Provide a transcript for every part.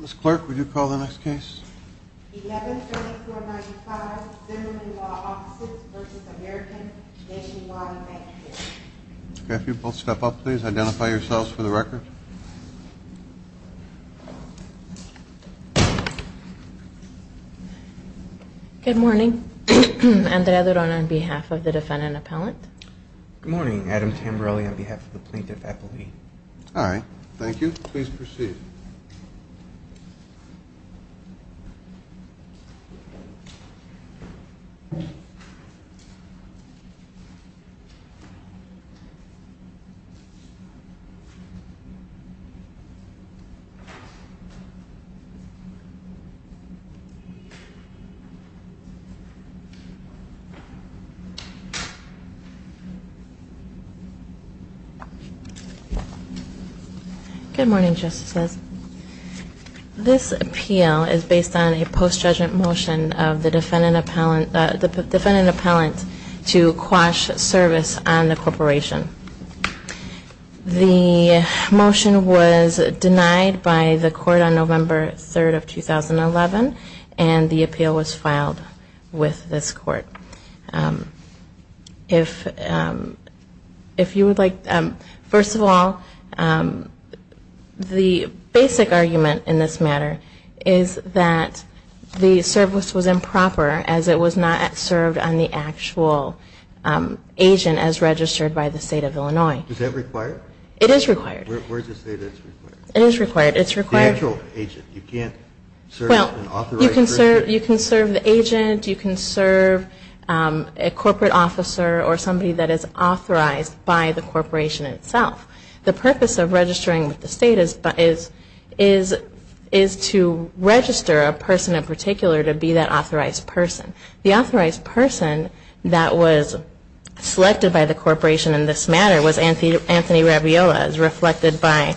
Ms. Clark, would you call the next case? 11-3495 Zimmerman Law Offices v. American Nationwide Bancorp Okay, if you both step up, please. Identify yourselves for the record. Good morning. Andrea Duran on behalf of the defendant appellant. Good morning. Adam Tamberelli on behalf of the plaintiff appellee. All right. Thank you. Please proceed. Good morning, Justices. This appeal is based on a post-judgment motion of the defendant appellant to quash service on the corporation. The motion was denied by the court on November 3, 2011, and the appeal was filed with this court. First of all, the basic argument in this matter is that the service was improper as it was not served on the actual agent as registered by the State of Illinois. Is that required? It is required. Where is it stated it's required? It is required. You can serve the agent. You can serve a corporate officer or somebody that is authorized by the corporation itself. The purpose of registering with the State is to register a person in particular to be that authorized person. The authorized person that was selected by the corporation in this matter was Anthony Rabiola, as reflected by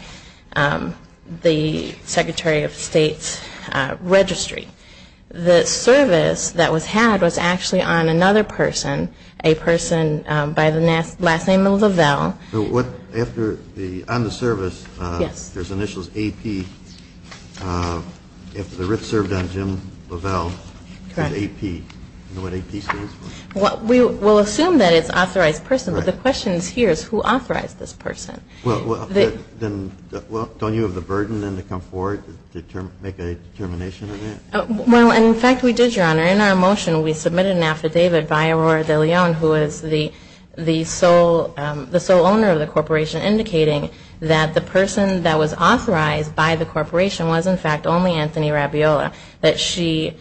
the Secretary of State's registry. The service that was had was actually on another person, a person by the last name of Lavelle. On the service, there's initials AP. If the writ served on Jim Lavelle, it's AP. Do you know what AP stands for? We'll assume that it's authorized person, but the question here is who authorized this person? Well, don't you have the burden then to come forward to make a determination on that? Well, in fact, we did, Your Honor. In our motion, we submitted an affidavit by Aurora de Leon, who is the sole owner of the corporation, indicating that the person that was authorized by the corporation was, in fact, only Anthony Rabiola, that she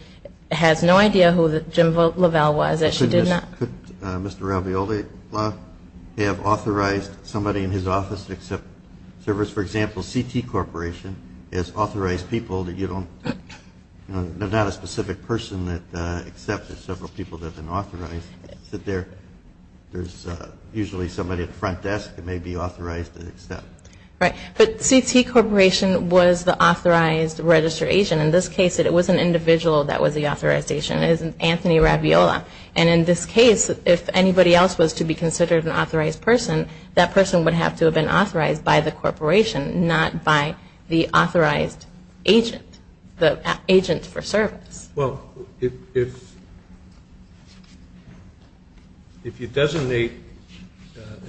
has no idea who Jim Lavelle was, that she did not. Could Mr. Rabiola have authorized somebody in his office to accept service, for example, is authorized people that you don't, you know, they're not a specific person that accepts. There's several people that have been authorized that sit there. There's usually somebody at the front desk that may be authorized to accept. Right, but CT Corporation was the authorized registration. In this case, it was an individual that was the authorization. It was Anthony Rabiola. And in this case, if anybody else was to be considered an authorized person, that person would have to have been authorized by the corporation, not by the authorized agent, the agent for service. Well, if you designate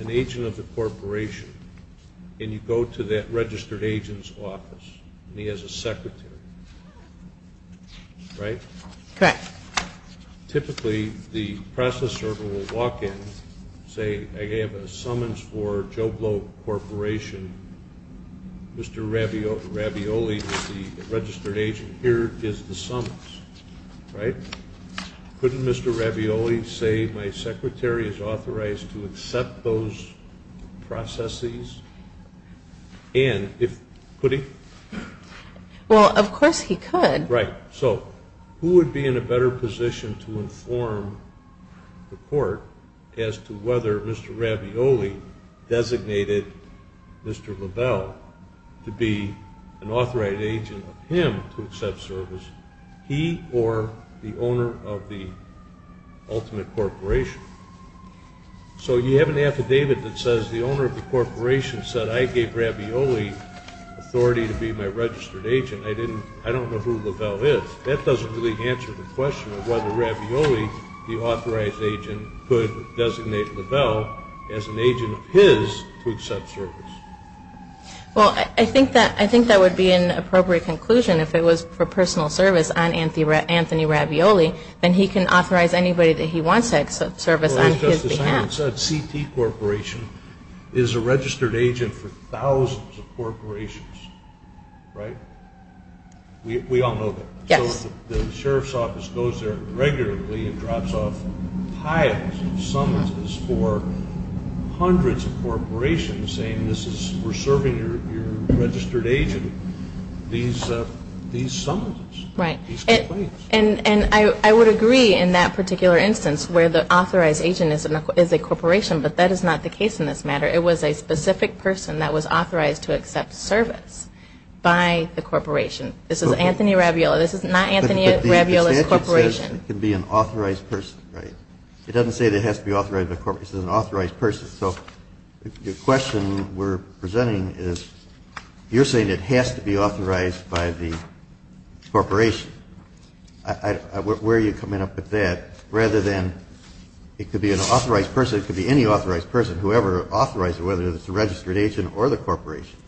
an agent of the corporation and you go to that registered agent's office, and he has a secretary, right? Correct. Typically, the process server will walk in, say, I have a summons for Joblo Corporation. Mr. Rabiola is the registered agent. Here is the summons, right? Couldn't Mr. Rabiola say my secretary is authorized to accept those processes? And could he? Well, of course he could. Right. So who would be in a better position to inform the court as to whether Mr. Rabiola designated Mr. Lavelle to be an authorized agent of him to accept service, he or the owner of the ultimate corporation? So you have an affidavit that says the owner of the corporation said, I gave Rabiola authority to be my registered agent. I don't know who Lavelle is. That doesn't really answer the question of whether Rabiola, the authorized agent, could designate Lavelle as an agent of his to accept service. Well, I think that would be an appropriate conclusion. If it was for personal service on Anthony Rabiola, then he can authorize anybody that he wants to accept service on his behalf. CT Corporation is a registered agent for thousands of corporations, right? We all know that. Yes. So the sheriff's office goes there regularly and drops off piles of summonses for hundreds of corporations saying we're serving your registered agent these summonses, these complaints. And I would agree in that particular instance where the authorized agent is a corporation, but that is not the case in this matter. It was a specific person that was authorized to accept service by the corporation. This is Anthony Rabiola. This is not Anthony Rabiola's corporation. But the statute says it can be an authorized person, right? It doesn't say it has to be authorized by the corporation. It says an authorized person. Your question we're presenting is you're saying it has to be authorized by the corporation. Where are you coming up with that? Rather than it could be an authorized person, it could be any authorized person, whoever authorized it, whether it's a registered agent or the corporation.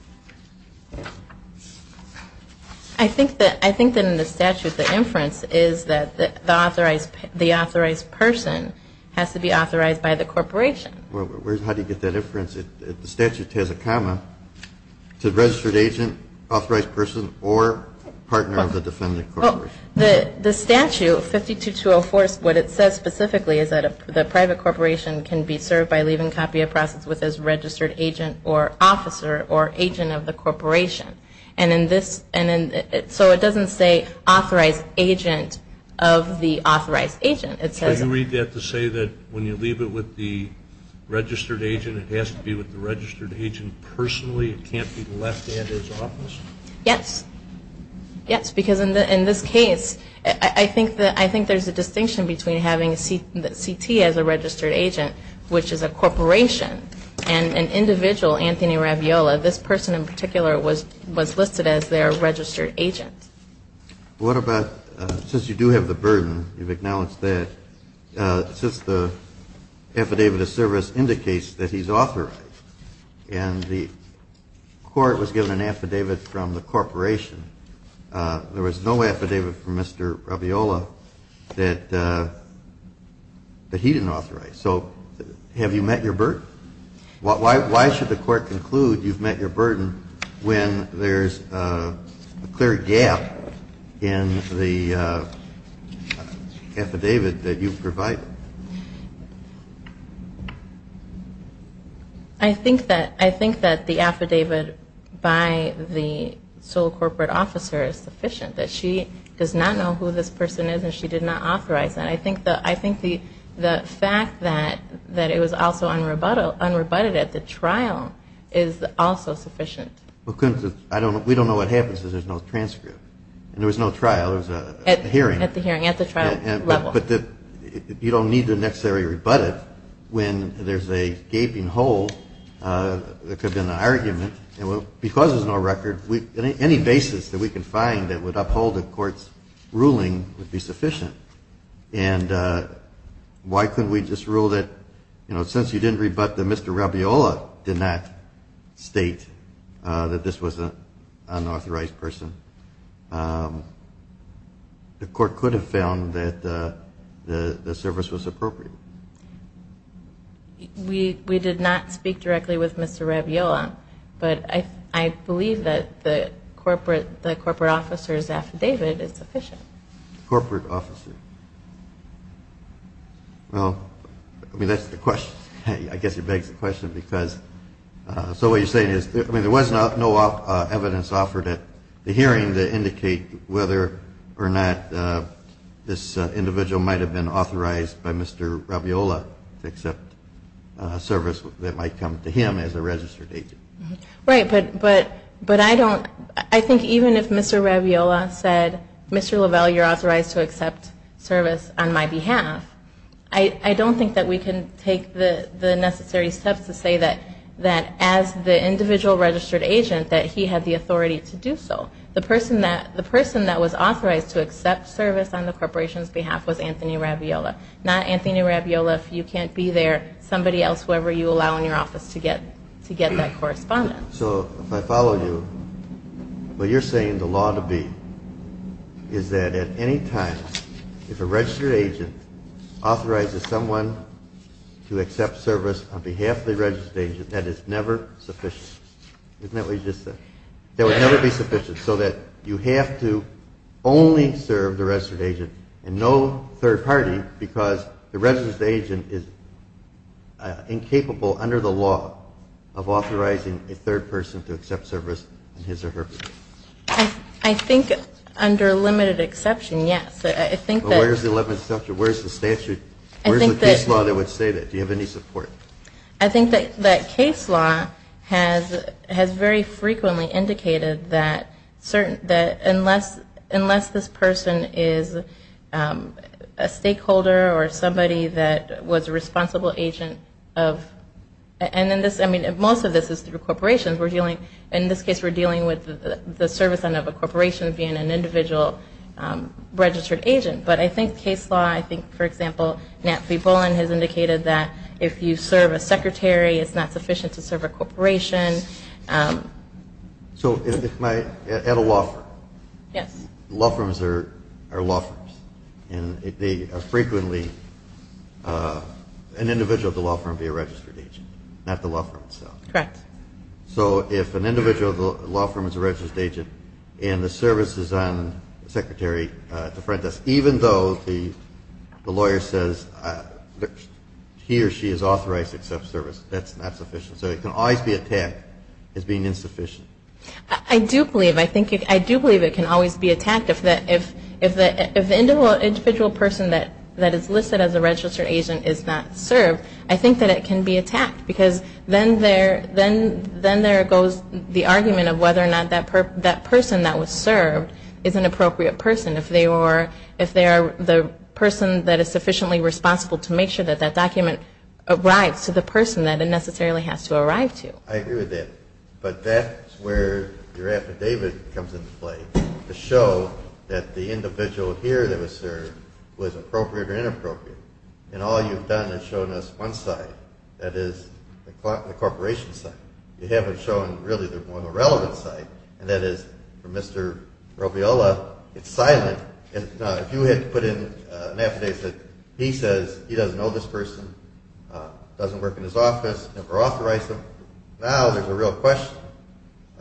I think that in the statute the inference is that the authorized person has to be authorized by the corporation. Well, how do you get that inference? The statute has a comma. Is it a registered agent, authorized person, or partner of the defendant corporation? The statute, 52-204, what it says specifically is that the private corporation can be served by leaving a copy of the process with his registered agent or officer or agent of the corporation. So it doesn't say authorized agent of the authorized agent. So you read that to say that when you leave it with the registered agent, it has to be with the registered agent personally? It can't be left at his office? Yes. Yes, because in this case, I think there's a distinction between having CT as a registered agent, which is a corporation, and an individual, Anthony Raviola, this person in particular was listed as their registered agent. What about since you do have the burden, you've acknowledged that, since the affidavit of service indicates that he's authorized and the court was given an affidavit from the corporation, there was no affidavit from Mr. Raviola that he didn't authorize. So have you met your burden? Why should the court conclude you've met your burden when there's a clear gap in the affidavit that you provide? I think that the affidavit by the sole corporate officer is sufficient, that she does not know who this person is and she did not authorize that. I think the fact that it was also unrebutted at the trial is also sufficient. We don't know what happens if there's no transcript. And there was no trial, there was a hearing. At the hearing, at the trial level. But you don't need to necessarily rebut it when there's a gaping hole, there could have been an argument, and because there's no record, any basis that we can find that would uphold the court's ruling would be sufficient. And why couldn't we just rule that, you know, since you didn't rebut that Mr. Raviola did not state that this was an unauthorized person, the court could have found that the service was appropriate. We did not speak directly with Mr. Raviola, but I believe that the corporate officer's affidavit is sufficient. Corporate officer. Well, I mean, that's the question. I guess it begs the question because, so what you're saying is, I mean, there was no evidence offered at the hearing that indicate whether or not this individual might have been authorized by Mr. Raviola to accept a service that might come to him as a registered agent. Right, but I don't, I think even if Mr. Raviola said, Mr. Lavelle, you're authorized to accept service on my behalf, I don't think that we can take the necessary steps to say that as the individual registered agent, that he had the authority to do so. The person that was authorized to accept service on the corporation's behalf was Anthony Raviola, not Anthony Raviola, if you can't be there, somebody else, whoever you allow in your office to get that correspondence. So if I follow you, what you're saying the law to be is that at any time, if a registered agent authorizes someone to accept service on behalf of the registered agent, that is never sufficient. Isn't that what you just said? That would never be sufficient so that you have to only serve the registered agent and no third party because the registered agent is incapable under the law of authorizing a third person to accept service in his or her place. I think under limited exception, yes. Where is the statute, where is the case law that would say that? Do you have any support? I think that case law has very frequently indicated that unless this person is a stakeholder or somebody that was a responsible agent of, and most of this is through corporations, in this case we're dealing with the service end of a corporation being an individual registered agent. But I think case law, I think, for example, Nat V. Bullen has indicated that if you serve a secretary, it's not sufficient to serve a corporation. So at a law firm, law firms are law firms, and they are frequently an individual at the law firm being a registered agent, not the law firm itself. Correct. So if an individual at the law firm is a registered agent and the service is on the secretary at the front desk, even though the lawyer says he or she is authorized to accept service, that's not sufficient. So it can always be attacked as being insufficient. I do believe it can always be attacked. If the individual person that is listed as a registered agent is not served, I think that it can be attacked because then there goes the argument of whether or not that person that was served is an appropriate person if they are the person that is sufficiently responsible to make sure that that document arrives to the person that it necessarily has to arrive to. I agree with that. But that's where your affidavit comes into play, to show that the individual here that was served was appropriate or inappropriate. And all you've done is shown us one side, that is, the corporation side. You haven't shown, really, the more relevant side, and that is, for Mr. Robiola, it's silent. And if you had put in an affidavit that he says he doesn't know this person, doesn't work in his office, never authorized him, now there's a real question.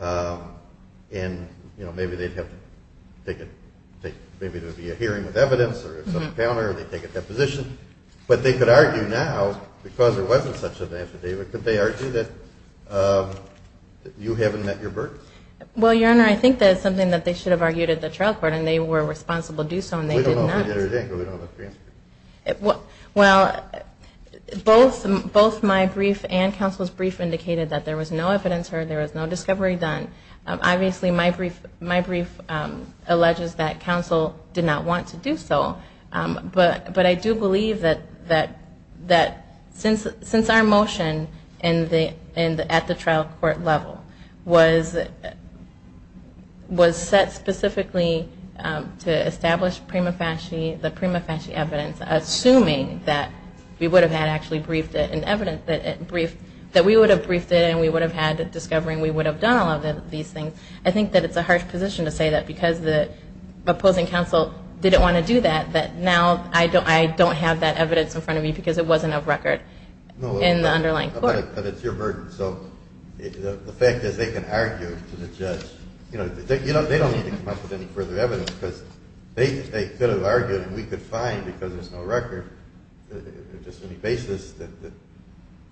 And, you know, maybe they'd have to take it. Maybe there would be a hearing of evidence or some counter, or they'd take a deposition. But they could argue now, because there wasn't such an affidavit, could they argue that you haven't met your burden? Well, Your Honor, I think that's something that they should have argued at the trial court, and they were responsible to do so, and they did not. We don't know if we did or didn't, but we don't have a transcript. Well, both my brief and counsel's brief indicated that there was no evidence heard, there was no discovery done. Obviously, my brief alleges that counsel did not want to do so. But I do believe that since our motion at the trial court level was set specifically to establish the prima facie evidence, assuming that we would have actually briefed it, and we would have had discovery and we would have done all of these things, I think that it's a harsh position to say that because the opposing counsel didn't want to do that, that now I don't have that evidence in front of me because it wasn't of record in the underlying court. But it's your burden. So the fact is they can argue to the judge. They don't need to come up with any further evidence, because they could have argued and we could find, because there's no record, just any basis that the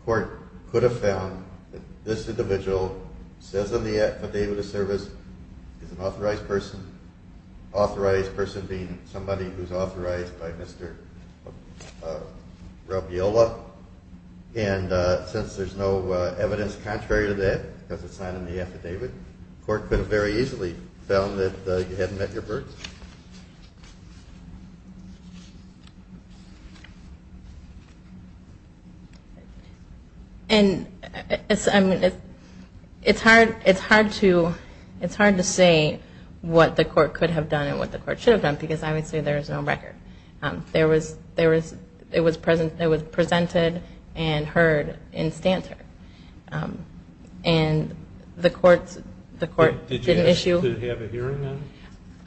court could have found that this individual says on the affidavit of service is an authorized person. Authorized person being somebody who's authorized by Mr. Robiola. And since there's no evidence contrary to that, because it's not in the affidavit, the court could have very easily found that you hadn't met your birth. And it's hard to say what the court could have done and what the court should have done, because obviously there is no record. It was presented and heard in Stanter. And the court didn't issue... Did you have a hearing on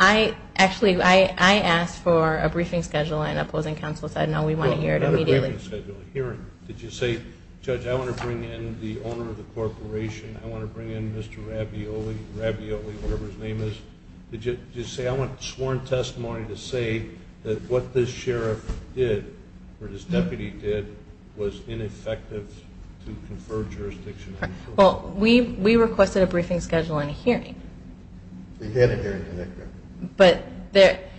it? Actually, I asked for a briefing schedule and opposing counsel said, no, we want to hear it immediately. Not a briefing schedule, a hearing. Did you say, judge, I want to bring in the owner of the corporation, I want to bring in Mr. Robiola, Robiola, whatever his name is. Did you say, I want sworn testimony to say that what this sheriff did or this deputy did was ineffective to confer jurisdiction... Well, we requested a briefing schedule and a hearing. You had a hearing. But there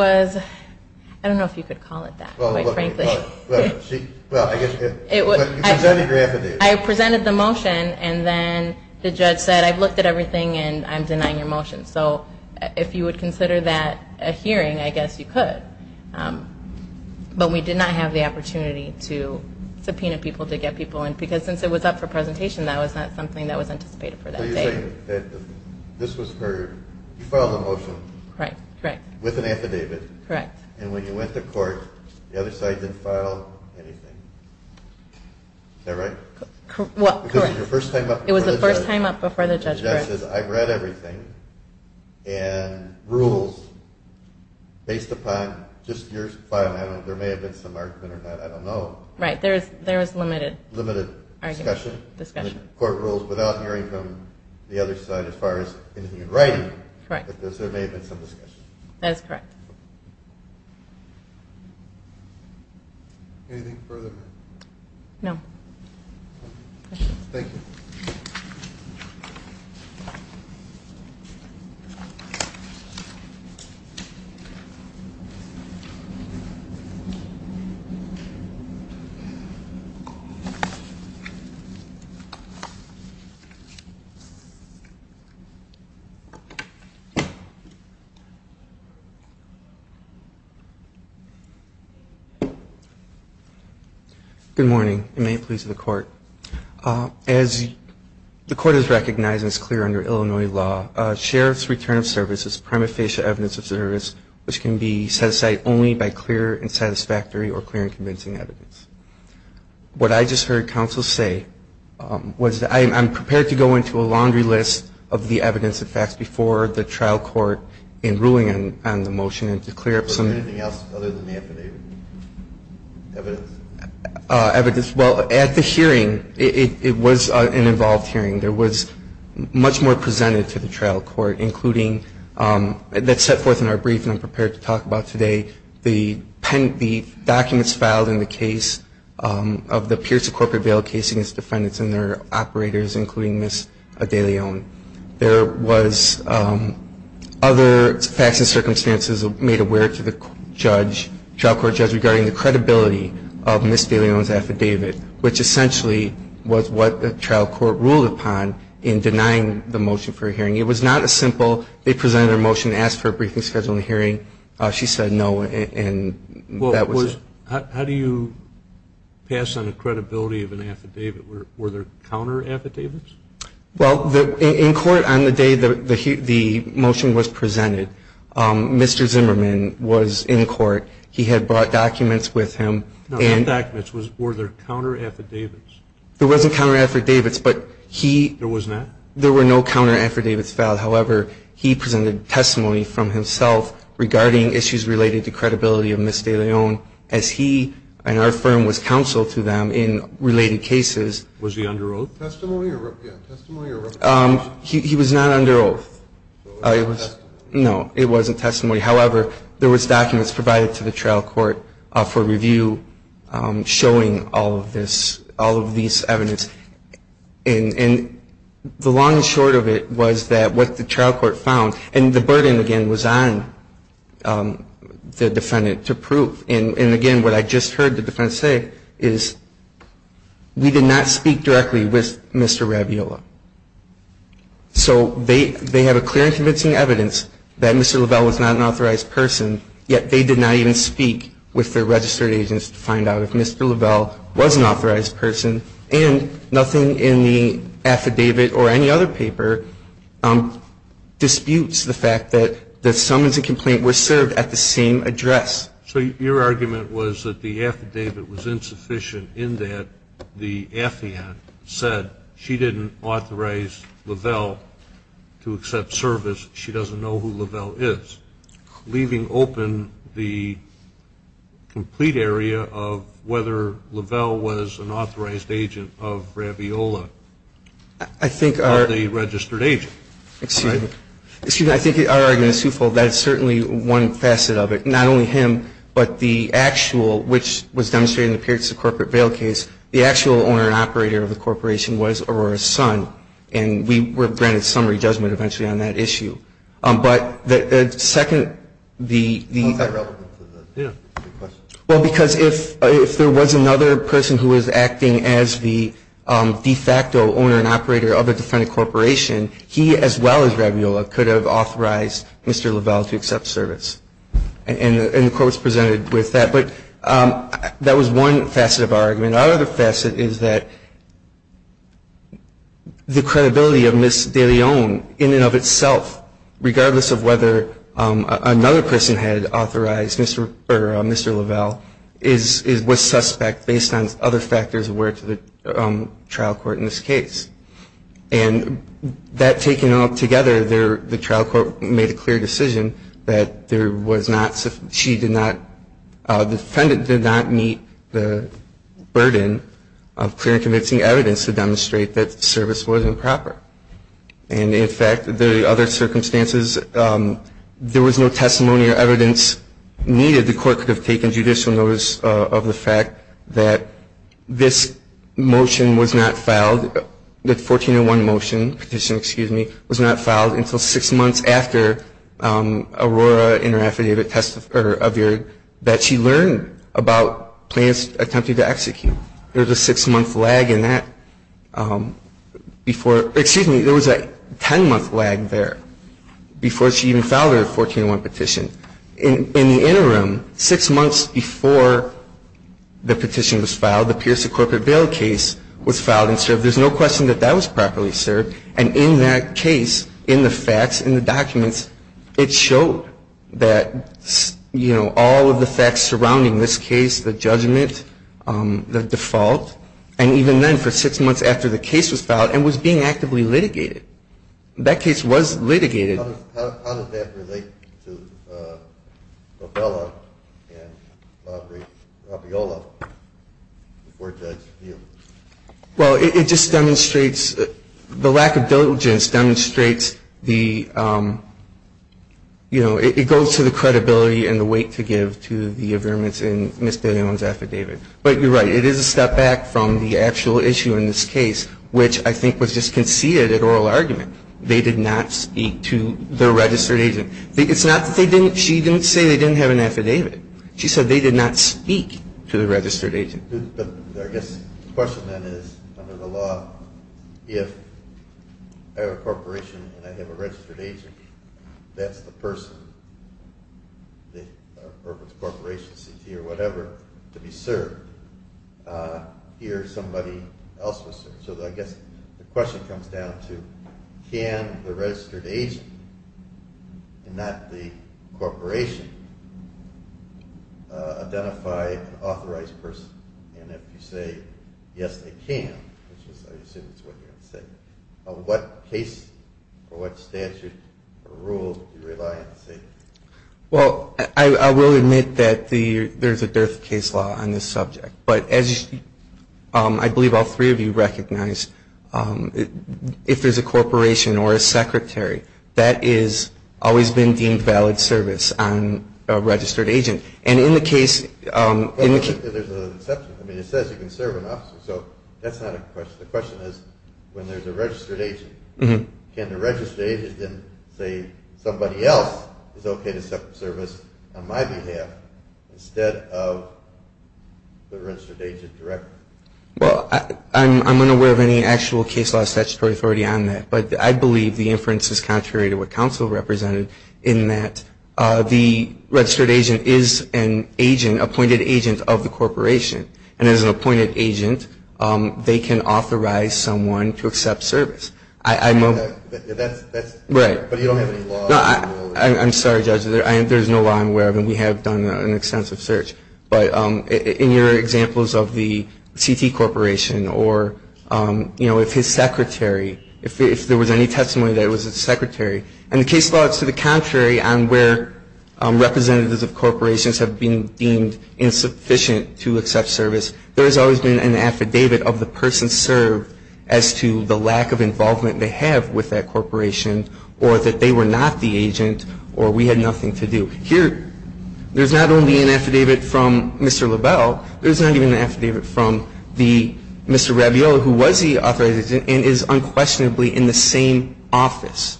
was... I don't know if you could call it that, quite frankly. Well, I guess you could. You presented your affidavit. I presented the motion and then the judge said, I've looked at everything and I'm denying your motion. So if you would consider that a hearing, I guess you could. But we did not have the opportunity to subpoena people, to get people in, because since it was up for presentation, that was not something that was anticipated for that day. So you're saying that this was her, you filed the motion with an affidavit. Correct. And when you went to court, the other side didn't file anything. Is that right? Well, correct. Because it was your first time up before the judge. It was the first time up before the judge, correct. The judge says, I've read everything and rules based upon just your filing. There may have been some argument or not, I don't know. Right. There was limited... Limited discussion. Discussion. Court rules without hearing from the other side as far as anything in writing. Correct. But there may have been some discussion. That is correct. Anything further? No. Thank you. Good morning. May it please the Court. As the Court has recognized and is clear under Illinois law, a sheriff's return of service is prima facie evidence of service which can be satisfied only by clear and satisfactory or clear and convincing evidence. What I just heard counsel say was that I'm prepared to go into a laundry list of the evidence and facts before the trial court in ruling on the motion and to clear up some... Is there anything else other than the affidavit? Evidence? Evidence. Well, at the hearing, it was an involved hearing. There was much more presented to the trial court, including that's set forth in our brief and I'm prepared to talk about today. The documents filed in the case of the Pierce Corporate Bail case against defendants and their operators, including Ms. DeLeon. There was other facts and circumstances made aware to the trial court judge regarding the credibility of Ms. DeLeon's affidavit, which essentially was what the trial court ruled upon in denying the motion for a hearing. It was not a simple, they presented their motion and asked for a briefing schedule and hearing. She said no and that was it. How do you pass on the credibility of an affidavit? Were there counter affidavits? Well, in court on the day the motion was presented, Mr. Zimmerman was in court. He had brought documents with him. No, not documents. Were there counter affidavits? There wasn't counter affidavits, but he... There was not? There were no counter affidavits filed. However, he presented testimony from himself regarding issues related to credibility of Ms. DeLeon as he and our firm was counsel to them in related cases. Was he under oath testimony? He was not under oath. No, it wasn't testimony. However, there was documents provided to the trial court for review showing all of this, all of these evidence. And the long and short of it was that what the trial court found, and the burden again was on the defendant to prove. And again, what I just heard the defendant say is we did not speak directly with Mr. Raviola. So they have a clear and convincing evidence that Mr. Lavelle was not an authorized person, yet they did not even speak with their registered agents to prove that Mr. Lavelle was an authorized person. And nothing in the affidavit or any other paper disputes the fact that the summons and complaint were served at the same address. So your argument was that the affidavit was insufficient in that the affiant said she didn't authorize Lavelle to accept service, she doesn't know who Lavelle is, leaving open the complete area of whether Lavelle was an authorized agent of Raviola or the registered agent. Excuse me. Excuse me. I think our argument is twofold. That is certainly one facet of it. Not only him, but the actual, which was demonstrated in the periods of corporate bail case, the actual owner and operator of the corporation was Aurora's son. And we were granted summary judgment eventually on that issue. But the second, the – How is that relevant to the question? Well, because if there was another person who was acting as the de facto owner and operator of a defendant corporation, he as well as Raviola could have authorized Mr. Lavelle to accept service. And the court was presented with that. But that was one facet of our argument. And our other facet is that the credibility of Ms. De Leon in and of itself, regardless of whether another person had authorized Mr. Lavelle, was suspect based on other factors aware to the trial court in this case. And that taken all together, the trial court made a clear decision that there was a burden of clear and convincing evidence to demonstrate that service was improper. And, in fact, the other circumstances, there was no testimony or evidence needed. The court could have taken judicial notice of the fact that this motion was not filed, the 1401 motion, petition, excuse me, was not filed until six months after Aurora in her affidavit of error that she learned about plans attempted to execute. There was a six-month lag in that before, excuse me, there was a ten-month lag there before she even filed her 1401 petition. In the interim, six months before the petition was filed, the Pierce of Corporate Bail case was filed and served. There's no question that that was properly served. And in that case, in the facts, in the documents, it showed that, you know, all of the facts surrounding this case, the judgment, the default, and even then for six months after the case was filed and was being actively litigated. That case was litigated. How does that relate to Lavelle and Robert Raviola, the four-judge appeal? Well, it just demonstrates, the lack of diligence demonstrates the, you know, it goes to the credibility and the weight to give to the affirmance in Ms. Dillon's affidavit. But you're right, it is a step back from the actual issue in this case, which I think was just conceded at oral argument. They did not speak to the registered agent. It's not that they didn't, she didn't say they didn't have an affidavit. She said they did not speak to the registered agent. But I guess the question then is, under the law, if I have a corporation and I have a registered agent, that's the person, or if it's a corporation, CT or whatever, to be served, here's somebody else to serve. So I guess the question comes down to can the registered agent and not the corporation identify an authorized person? And if you say, yes, they can, which I assume is what you're going to say, what case or what statute or rule do you rely on to say that? Well, I will admit that there's a dearth of case law on this subject. But as I believe all three of you recognize, if there's a corporation or a secretary, that has always been deemed valid service on a registered agent. And in the case of the key ---- There's an exception. I mean, it says you can serve an officer. So that's not a question. The question is, when there's a registered agent, can the registered agent then say, somebody else is okay to serve on my behalf instead of the registered agent directly? Well, I'm unaware of any actual case law statutory authority on that. But I believe the inference is contrary to what counsel represented in that the registered agent is an agent, appointed agent of the corporation. And as an appointed agent, they can authorize someone to accept service. That's ---- Right. But you don't have any law on that? I'm sorry, Judge. There's no law I'm aware of, and we have done an extensive search. But in your examples of the CT corporation or, you know, if his secretary, if there was any testimony that it was his secretary. And the case law is to the contrary on where representatives of corporations have been deemed insufficient to accept service. There has always been an affidavit of the person served as to the lack of involvement they have with that corporation or that they were not the agent or we had nothing to do. Here, there's not only an affidavit from Mr. LaBelle. There's not even an affidavit from the Mr. Rabiot, who was the authorized agent and is unquestionably in the same office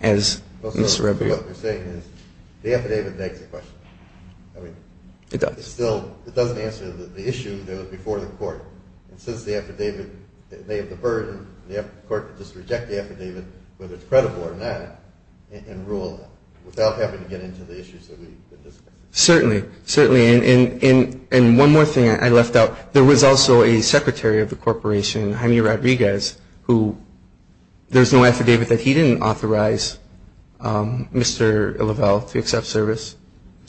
as Mr. Rabiot. What you're saying is the affidavit begs the question. I mean, it still doesn't answer the issue that was before the court. And since the affidavit, they have the burden, the court can just reject the affidavit, whether it's credible or not, and rule it without having to get into the issues that we discussed. Certainly. Certainly. And one more thing I left out. There was also a secretary of the corporation, Jaime Rodriguez, who there's no affidavit that he didn't authorize Mr. LaBelle to accept service.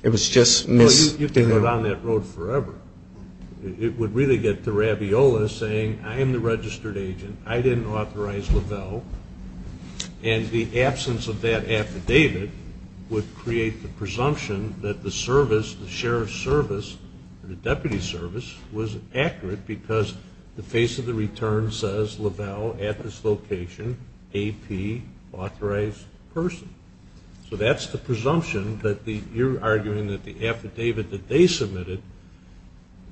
It was just Ms. De Leon. Well, you could go down that road forever. It would really get to Rabiot saying, I am the registered agent. I didn't authorize LaBelle. And the absence of that affidavit would create the presumption that the service, the sheriff's service, the deputy's service, was accurate because the face of the return says, LaBelle, at this location, AP, authorized person. So that's the presumption that you're arguing that the affidavit that they submitted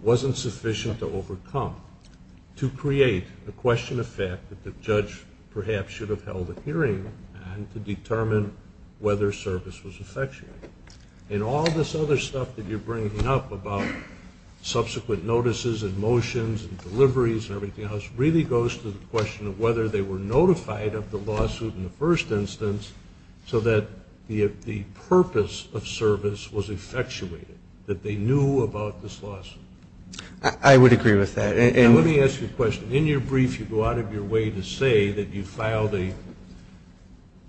wasn't sufficient to overcome, to create a question of fact that the judge perhaps should have held a hearing and to determine whether service was effective. And all this other stuff that you're bringing up about subsequent notices and motions and deliveries and everything else really goes to the question of whether they were notified of the lawsuit in the first instance so that the purpose of service was effectuated, that they knew about this lawsuit. I would agree with that. And let me ask you a question. In your brief, you go out of your way to say that you filed a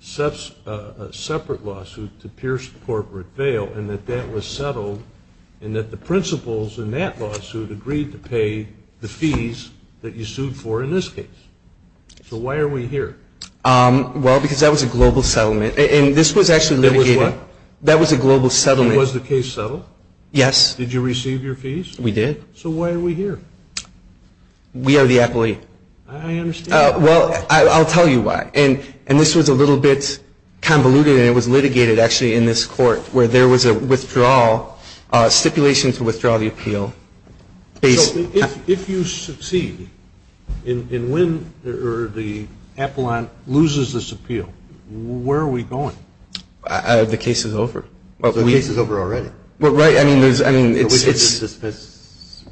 separate lawsuit to pierce corporate bail and that that was settled and that the principals in that lawsuit agreed to pay the fees that you sued for in this case. So why are we here? Well, because that was a global settlement. And this was actually litigated. It was what? That was a global settlement. Was the case settled? Yes. Did you receive your fees? We did. So why are we here? We are the appellee. I understand. Well, I'll tell you why. And this was a little bit convoluted and it was litigated actually in this court where there was a withdrawal, stipulation to withdraw the appeal. So if you succeed in when the appellant loses this appeal, where are we going? The case is over. The case is over already? Well, right. I mean, there's, I mean, it's. This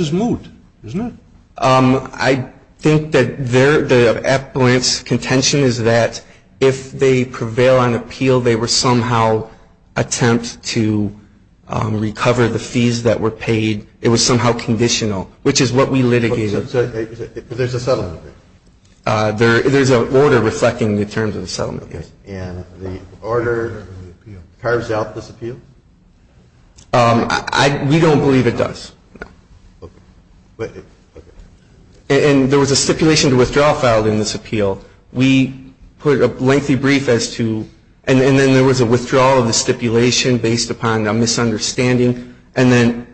is moot, isn't it? I think that the appellant's contention is that if they prevail on appeal, they will somehow attempt to recover the fees that were paid. It was somehow conditional, which is what we litigated. So there's a settlement? There's an order reflecting the terms of the settlement, yes. And the order carves out this appeal? We don't believe it does. And there was a stipulation to withdraw filed in this appeal. We put a lengthy brief as to, and then there was a withdrawal of the stipulation based upon a misunderstanding. And then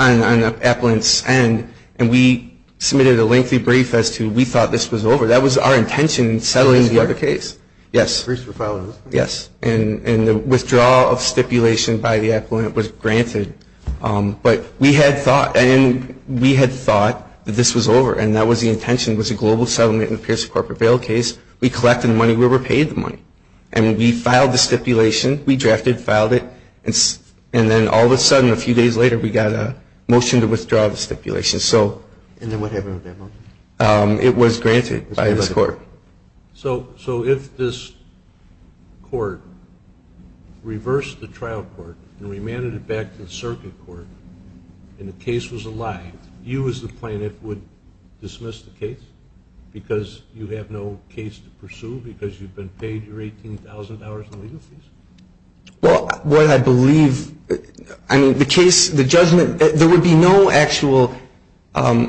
on the appellant's end, and we submitted a lengthy brief as to we thought this was over. That was our intention in settling the other case. Yes. Briefs were filed in this case? Yes. And the withdrawal of stipulation by the appellant was granted. But we had thought, and we had thought that this was over. And that was the intention, was a global settlement in the Pierce Corporate Bail case. We collected the money. We were paid the money. And we filed the stipulation. We drafted, filed it. And then all of a sudden, a few days later, we got a motion to withdraw the stipulation. And then what happened at that moment? It was granted by this court. So if this court reversed the trial court and remanded it back to the circuit court, and the case was a lie, you as the plaintiff would dismiss the case because you have no case to pursue, because you've been paid your $18,000 in legal fees? Well, what I believe, I mean, the case, the judgment, there would be no actual, well,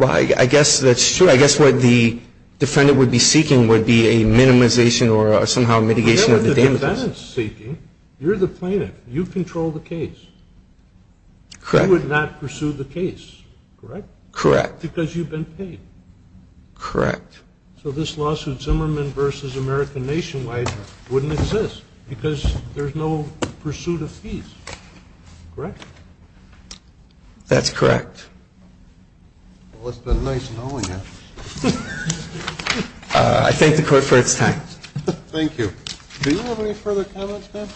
I guess that's true. I guess what the defendant would be seeking would be a minimization or somehow mitigation of the damages. You're the plaintiff. You control the case. Correct. You would not pursue the case, correct? Correct. Because you've been paid. Correct. So this lawsuit, Zimmerman v. American Nationwide, wouldn't exist because there's no pursuit of fees, correct? That's correct. Well, it's been nice knowing you. I thank the court for its time. Thank you. Do you have any further comments, ma'am?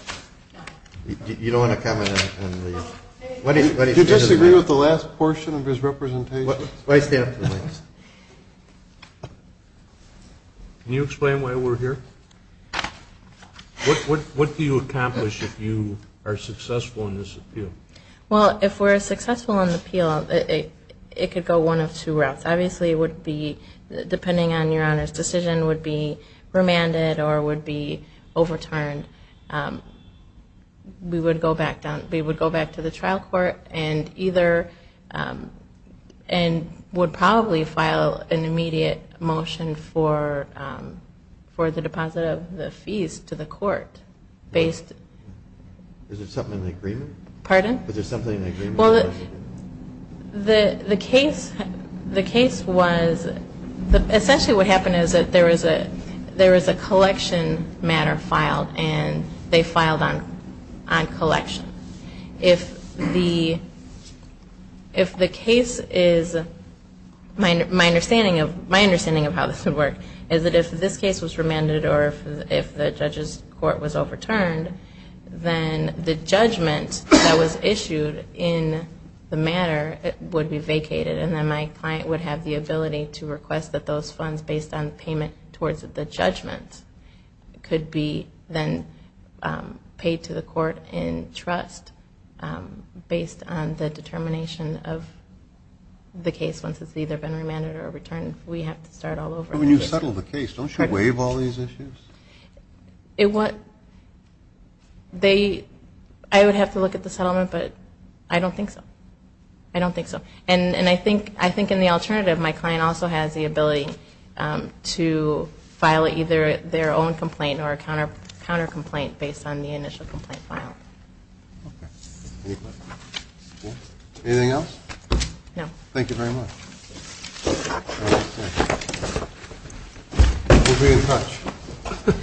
No. You don't want to comment on these? Do you disagree with the last portion of his representation? Why stand up to the mic? Can you explain why we're here? What do you accomplish if you are successful in this appeal? Well, if we're successful in the appeal, it could go one of two routes. Obviously, it would be, depending on Your Honor's decision, would be remanded or would be overturned. We would go back to the trial court and would probably file an immediate motion for the deposit of the fees to the court. Is there something in the agreement? Pardon? Is there something in the agreement? Well, the case was, essentially what happened is that there was a collection matter filed, and they filed on collection. If the case is, my understanding of how this would work is that if this case was remanded or if the judge's court was overturned, then the judgment that was issued in the matter would be vacated, and then my client would have the ability to request that those funds, based on payment towards the judgment, could be then paid to the court in trust based on the determination of the case once it's either been remanded or overturned. We have to start all over. When you settle the case, don't you waive all these issues? I would have to look at the settlement, but I don't think so. I don't think so. And I think in the alternative, my client also has the ability to file either their own complaint or a counter complaint based on the initial complaint file. Okay. Any questions? No. Anything else? No. Thank you very much. We'll be in touch.